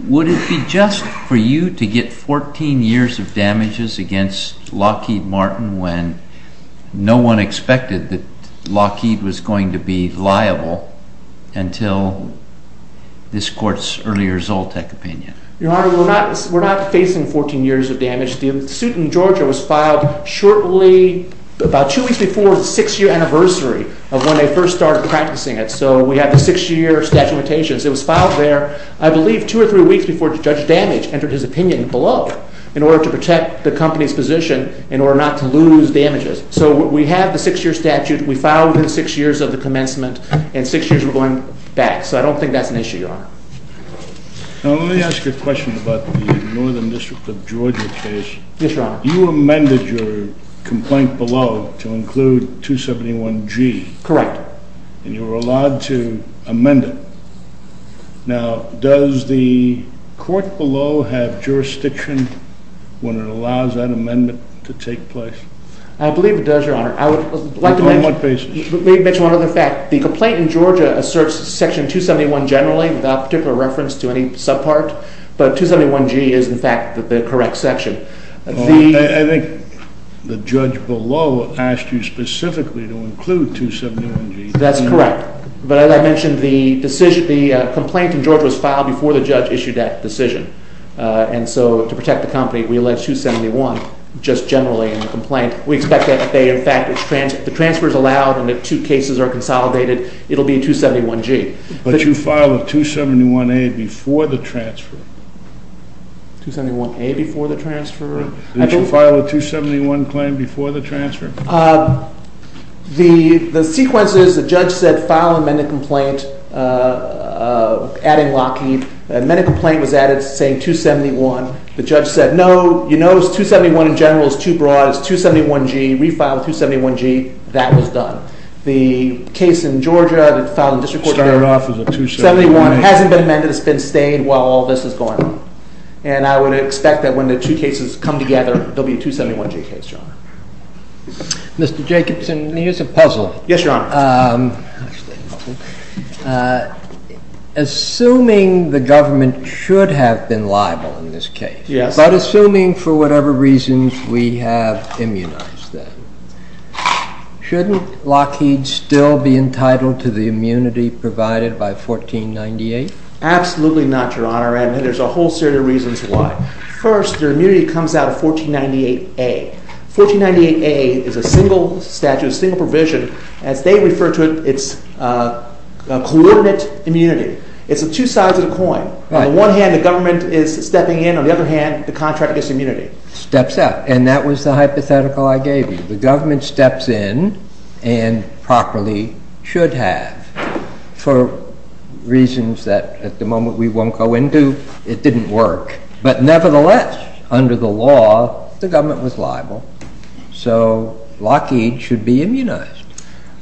Would it be just for you to get 14 years of damages against Lockheed Martin when no one expected that Lockheed was going to be liable until this court's earlier Zoltec opinion? Your Honor, we're not facing 14 years of damage. The suit in Georgia was filed shortly, about two weeks before the six-year anniversary of when they first started practicing it. So we have the six-year statute of limitations. It was filed there, I believe, two or three weeks before Judge Damage entered his opinion below in order to protect the company's position in order not to lose damages. So we have the six-year statute. We filed within six years of the commencement, and six years we're going back. So I don't think that's an issue, Your Honor. Now, let me ask you a question about the Northern District of Georgia case. Yes, Your Honor. You amended your complaint below to include 271G. Correct. And you were allowed to amend it. Now, does the court below have jurisdiction when it allows that amendment to take place? I believe it does, Your Honor. On what basis? Let me mention one other fact. The complaint in Georgia asserts Section 271 generally without particular reference to any subpart, but 271G is, in fact, the correct section. I think the judge below asked you specifically to include 271G. That's correct. But as I mentioned, the complaint in Georgia was filed before the judge issued that decision. And so to protect the company, we allege 271 just generally in the complaint. We expect that they, in fact, if the transfer is allowed and the two cases are consolidated, it will be 271G. But you filed a 271A before the transfer. 271A before the transfer? Did you file a 271 claim before the transfer? The sequence is the judge said file amended complaint adding Lockheed. The amended complaint was added saying 271. The judge said, no, you notice 271 in general is too broad. It's 271G. Refile 271G. That was done. The case in Georgia that filed in district court- Started off as a 271A. 271 hasn't been amended. It's been stayed while all this is going on. And I would expect that when the two cases come together, there will be a 271G case, Your Honor. Mr. Jacobson, here's a puzzle. Yes, Your Honor. Assuming the government should have been liable in this case- Yes. But assuming for whatever reasons we have immunized them, shouldn't Lockheed still be entitled to the immunity provided by 1498? Absolutely not, Your Honor. And there's a whole series of reasons why. First, their immunity comes out of 1498A. 1498A is a single statute, a single provision. As they refer to it, it's a coordinate immunity. It's the two sides of the coin. On the one hand, the government is stepping in. On the other hand, the contract is immunity. Steps out. And that was the hypothetical I gave you. The government steps in and properly should have. For reasons that at the moment we won't go into, it didn't work. But nevertheless, under the law, the government was liable. So Lockheed should be immunized.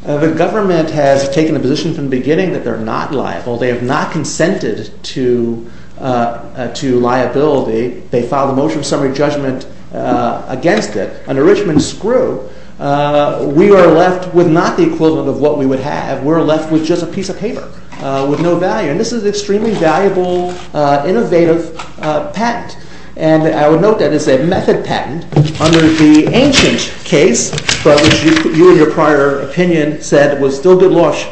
The government has taken a position from the beginning that they're not liable. They have not consented to liability. They filed a motion of summary judgment against it. Under Richmond's screw, we are left with not the equivalent of what we would have. We're left with just a piece of paper with no value. And this is an extremely valuable, innovative patent. And I would note that it's a method patent under the ancient case, but which you in your prior opinion said was still good-losh,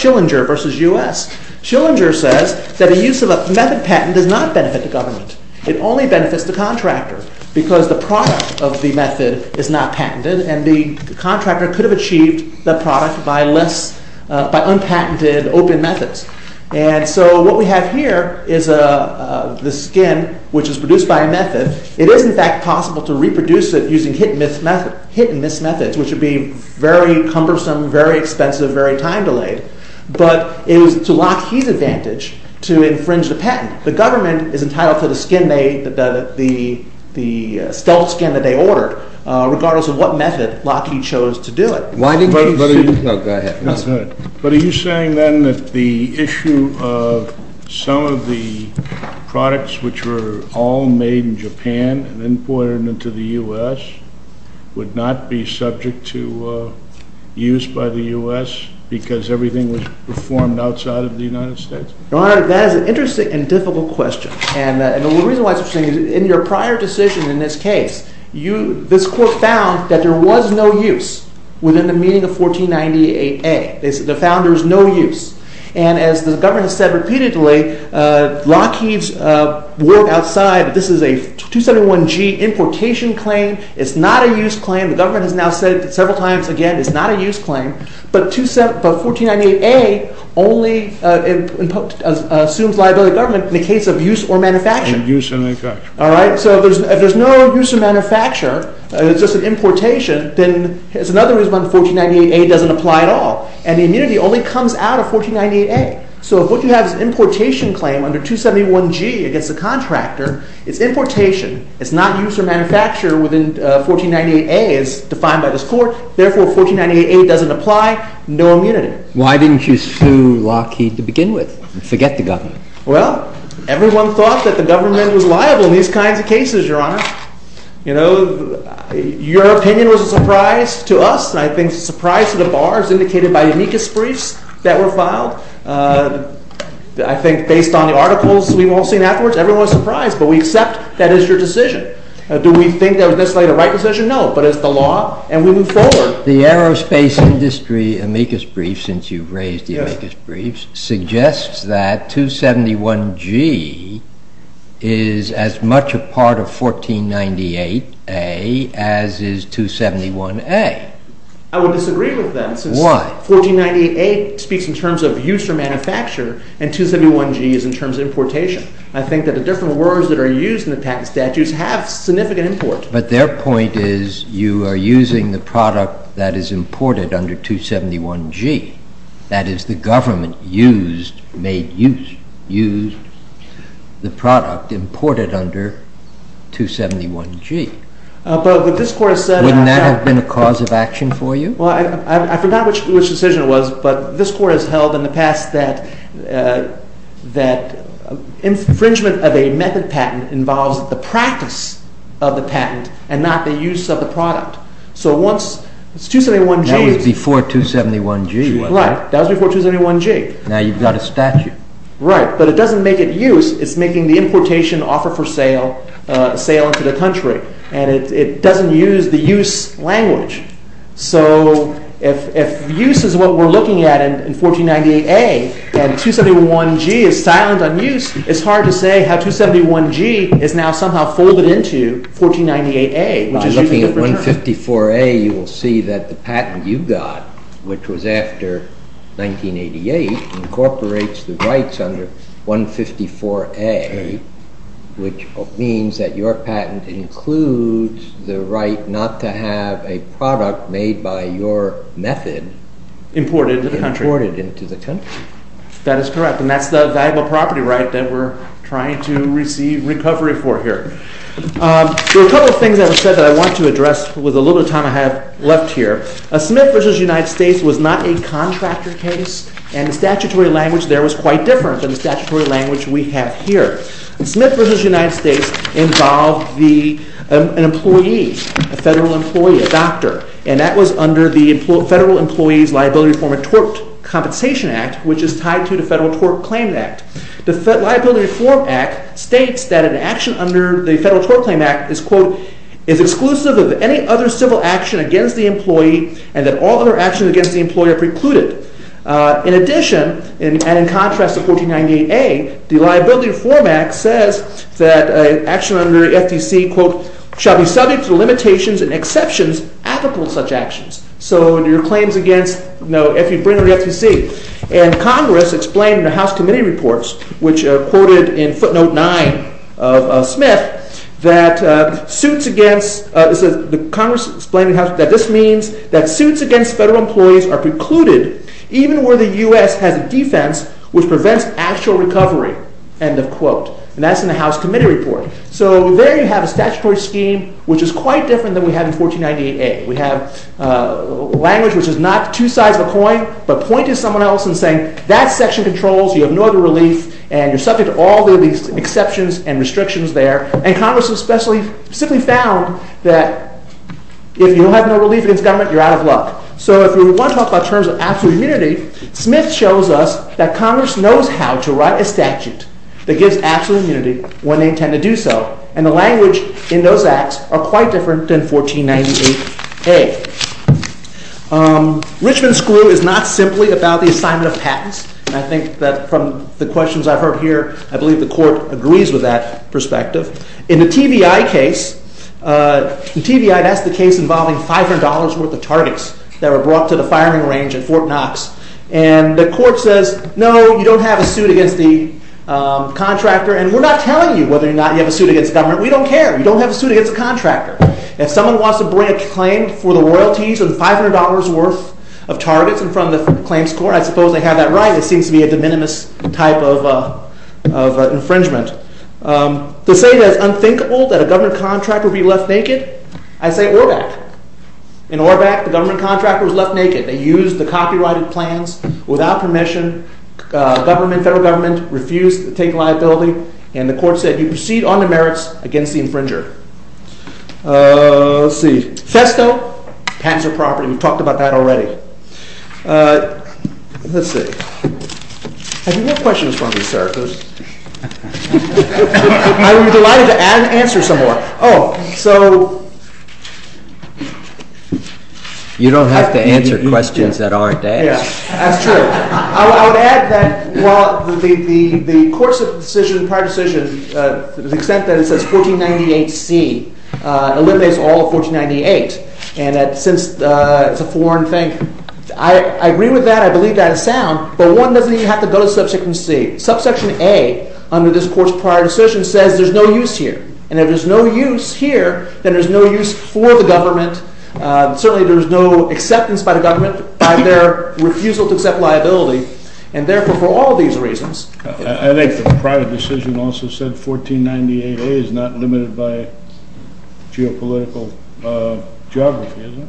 Schillinger v. U.S. Schillinger says that the use of a method patent does not benefit the government. It only benefits the contractor because the product of the method is not patented and the contractor could have achieved the product by unpatented, open methods. And so what we have here is the skin, which is produced by a method. It is, in fact, possible to reproduce it using hit-and-miss methods, which would be very cumbersome, very expensive, very time-delayed. But it was to Lockheed's advantage to infringe the patent. The government is entitled to the skin made, the stealth skin that they ordered, regardless of what method Lockheed chose to do it. But are you saying then that the issue of some of the products which were all made in Japan and imported into the U.S. would not be subject to use by the U.S. because everything was performed outside of the United States? Your Honor, that is an interesting and difficult question. And the reason why it's interesting is in your prior decision in this case, this court found that there was no use within the meaning of 1498A. They found there was no use. And as the government has said repeatedly, Lockheed's work outside, this is a 271G importation claim. It's not a use claim. The government has now said several times again it's not a use claim. But 1498A only assumes liability to the government in the case of use or manufacture. Use or manufacture. All right? So if there's no use or manufacture, it's just an importation, then it's another reason why 1498A doesn't apply at all. And the immunity only comes out of 1498A. So if what you have is an importation claim under 271G against the contractor, it's importation. It's not use or manufacture within 1498A as defined by this court. Therefore, 1498A doesn't apply. No immunity. Why didn't you sue Lockheed to begin with and forget the government? Well, everyone thought that the government was liable in these kinds of cases, Your Honor. You know, your opinion was a surprise to us, and I think it's a surprise to the bars indicated by amicus briefs that were filed. I think based on the articles we've all seen afterwards, everyone was surprised. But we accept that is your decision. Do we think that was necessarily the right decision? No. But it's the law, and we move forward. The aerospace industry amicus brief, since you've raised the amicus briefs, suggests that 271G is as much a part of 1498A as is 271A. I would disagree with that. Why? 1498A speaks in terms of use or manufacture, and 271G is in terms of importation. I think that the different words that are used in the patent statutes have significant import. But their point is you are using the product that is imported under 271G. That is, the government used, made use, used the product imported under 271G. But this Court has said- Wouldn't that have been a cause of action for you? Well, I forgot which decision it was, but this Court has held in the past that infringement of a method patent involves the practice of the patent and not the use of the product. So once 271G- That was before 271G, wasn't it? Right. That was before 271G. Now you've got a statute. Right. But it doesn't make it use. It's making the importation offer for sale into the country, and it doesn't use the use language. So if use is what we're looking at in 1498A, and 271G is silent on use, it's hard to say how 271G is now somehow folded into 1498A, which is using a different term. By looking at 154A, you will see that the patent you got, which was after 1988, incorporates the rights under 154A, which means that your patent includes the right not to have a product made by your method- Imported into the country. Imported into the country. That is correct, and that's the valuable property right that we're trying to receive recovery for here. There are a couple of things I would say that I want to address with a little bit of time I have left here. Smith v. United States was not a contractor case, and the statutory language there was quite different than the statutory language we have here. Smith v. United States involved an employee, a federal employee, a doctor, and that was under the Federal Employees Liability Reform and Tort Compensation Act, which is tied to the Federal Tort Claim Act. The Liability Reform Act states that an action under the Federal Tort Claim Act is, quote, is exclusive of any other civil action against the employee and that all other actions against the employee are precluded. In addition, and in contrast to 1498A, the Liability Reform Act says that an action under FTC, quote, shall be subject to limitations and exceptions applicable to such actions. So your claims against, you know, if you bring under FTC. And Congress explained in the House Committee Reports, which are quoted in footnote 9 of Smith, that suits against, Congress explained in the House, that this means that suits against federal employees are precluded even where the U.S. has a defense which prevents actual recovery, end of quote. And that's in the House Committee Report. So there you have a statutory scheme which is quite different than we have in 1498A. We have language which is not two sides of a coin, but point to someone else and say, that section controls, you have no other relief, and you're subject to all the exceptions and restrictions there. And Congress especially, simply found that if you have no relief against government, you're out of luck. So if we want to talk about terms of absolute immunity, Smith shows us that Congress knows how to write a statute that gives absolute immunity when they intend to do so. And the language in those acts are quite different than 1498A. Richmond Screw is not simply about the assignment of patents. And I think that from the questions I've heard here, I believe the Court agrees with that perspective. In the TVI case, that's the case involving $500 worth of targets that were brought to the firing range at Fort Knox. And the Court says, no, you don't have a suit against the contractor, and we're not telling you whether or not you have a suit against the government. We don't care. You don't have a suit against the contractor. If someone wants to bring a claim for the royalties or the $500 worth of targets in front of the claims court, I suppose they have that right. It seems to be a de minimis type of infringement. To say that it's unthinkable that a government contractor would be left naked, I say Orbach. In Orbach, the government contractor was left naked. They used the copyrighted plans without permission. Government, federal government, refused to take liability. And the Court said, you proceed on the merits against the infringer. Let's see. Festo, pats of property. We've talked about that already. Let's see. Have you got questions for me, sir? I would be delighted to answer some more. Oh, so you don't have to answer questions that aren't asked. That's true. I would add that the Court's decision, prior decision, to the extent that it says 1498C eliminates all of 1498. And since it's a foreign thing, I agree with that. I believe that is sound. But one doesn't even have to go to Subsection C. Subsection A under this Court's prior decision says there's no use here. And if there's no use here, then there's no use for the government. Certainly, there's no acceptance by the government by their refusal to accept liability. And therefore, for all these reasons. I think the prior decision also said 1498A is not limited by geopolitical geography, is it?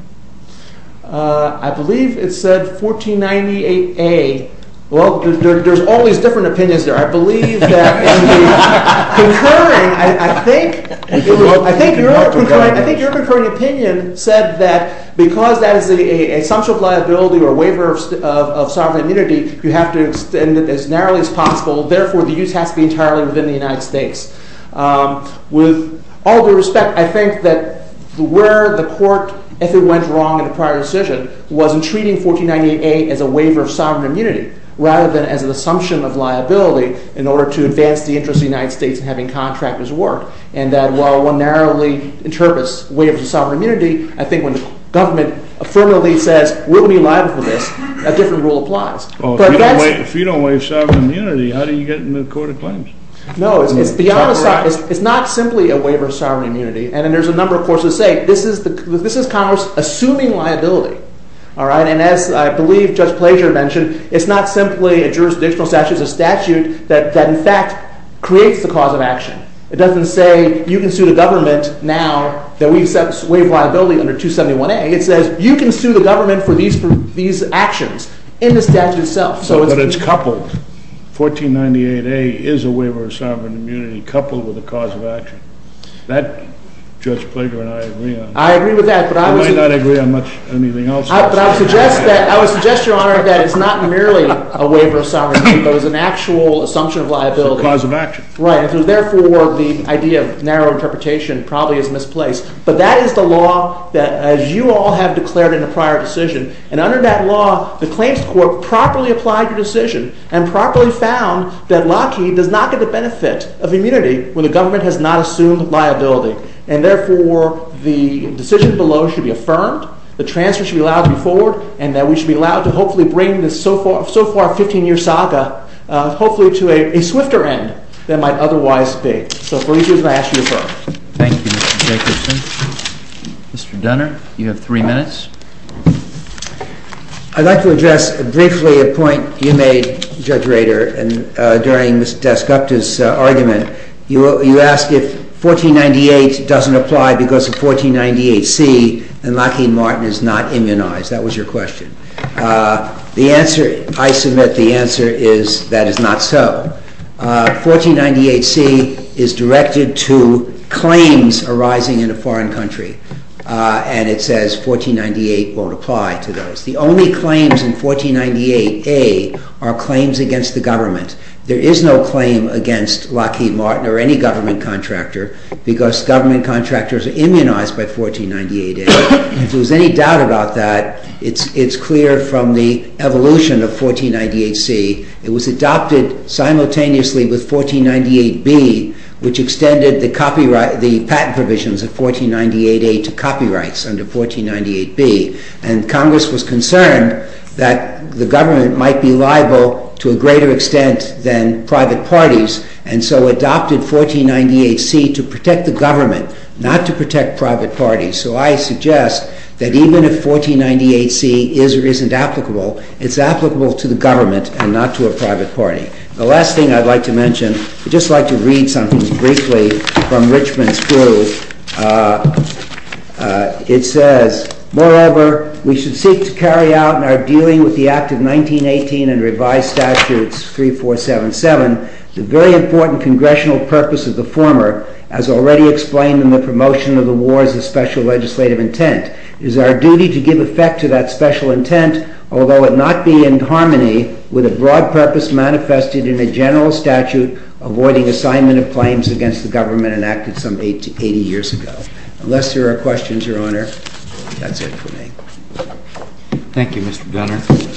I believe it said 1498A. Well, there's all these different opinions there. I think your concurring opinion said that because that is the assumption of liability or waiver of sovereign immunity, you have to extend it as narrowly as possible. Therefore, the use has to be entirely within the United States. With all due respect, I think that where the Court, if it went wrong in the prior decision, was in treating 1498A as a waiver of sovereign immunity rather than as an assumption of liability in order to advance the interest of the United States in having contractors work. And that while one narrowly interprets waiver of sovereign immunity, I think when the government affirmatively says we're going to be liable for this, a different rule applies. If you don't waive sovereign immunity, how do you get into the Court of Claims? No, it's beyond – it's not simply a waiver of sovereign immunity. And there's a number of courts that say this is Congress assuming liability. And as I believe Judge Plager mentioned, it's not simply a jurisdictional statute. It's a statute that in fact creates the cause of action. It doesn't say you can sue the government now that we've waived liability under 271A. It says you can sue the government for these actions in the statute itself. But it's coupled. 1498A is a waiver of sovereign immunity coupled with a cause of action. That Judge Plager and I agree on. I agree with that. I might not agree on much – anything else. But I would suggest, Your Honor, that it's not merely a waiver of sovereign immunity. It's an actual assumption of liability. It's a cause of action. Right. Therefore, the idea of narrow interpretation probably is misplaced. But that is the law that as you all have declared in a prior decision. And under that law, the claims court properly applied your decision and properly found that Lockheed does not get the benefit of immunity when the government has not assumed liability. And therefore, the decision below should be affirmed, the transfer should be allowed to be forward, and that we should be allowed to hopefully bring this so far 15-year saga hopefully to a swifter end than might otherwise be. So for these reasons, I ask you to defer. Thank you, Mr. Jacobson. Mr. Dunner, you have three minutes. I'd like to address briefly a point you made, Judge Rader, during Ms. Descupta's argument. You asked if 1498 doesn't apply because of 1498C, then Lockheed Martin is not immunized. That was your question. The answer – I submit the answer is that is not so. 1498C is directed to claims arising in a foreign country. And it says 1498 won't apply to those. The only claims in 1498A are claims against the government. There is no claim against Lockheed Martin or any government contractor because government contractors are immunized by 1498A. If there's any doubt about that, it's clear from the evolution of 1498C. It was adopted simultaneously with 1498B, which extended the patent provisions of 1498A to copyrights under 1498B. And Congress was concerned that the government might be liable to a greater extent than private parties, and so adopted 1498C to protect the government, not to protect private parties. So I suggest that even if 1498C is or isn't applicable, it's applicable to the government and not to a private party. The last thing I'd like to mention – I'd just like to read something briefly from Richmond's proof. It says, moreover, we should seek to carry out in our dealing with the Act of 1918 and revised statutes 3477 the very important congressional purpose of the former, as already explained in the promotion of the war as a special legislative intent. It is our duty to give effect to that special intent, although it not be in harmony with a broad purpose manifested in a general statute avoiding assignment of claims against the government enacted some 80 years ago. Unless there are questions, Your Honor, that's it for me. Thank you, Mr. Gunner.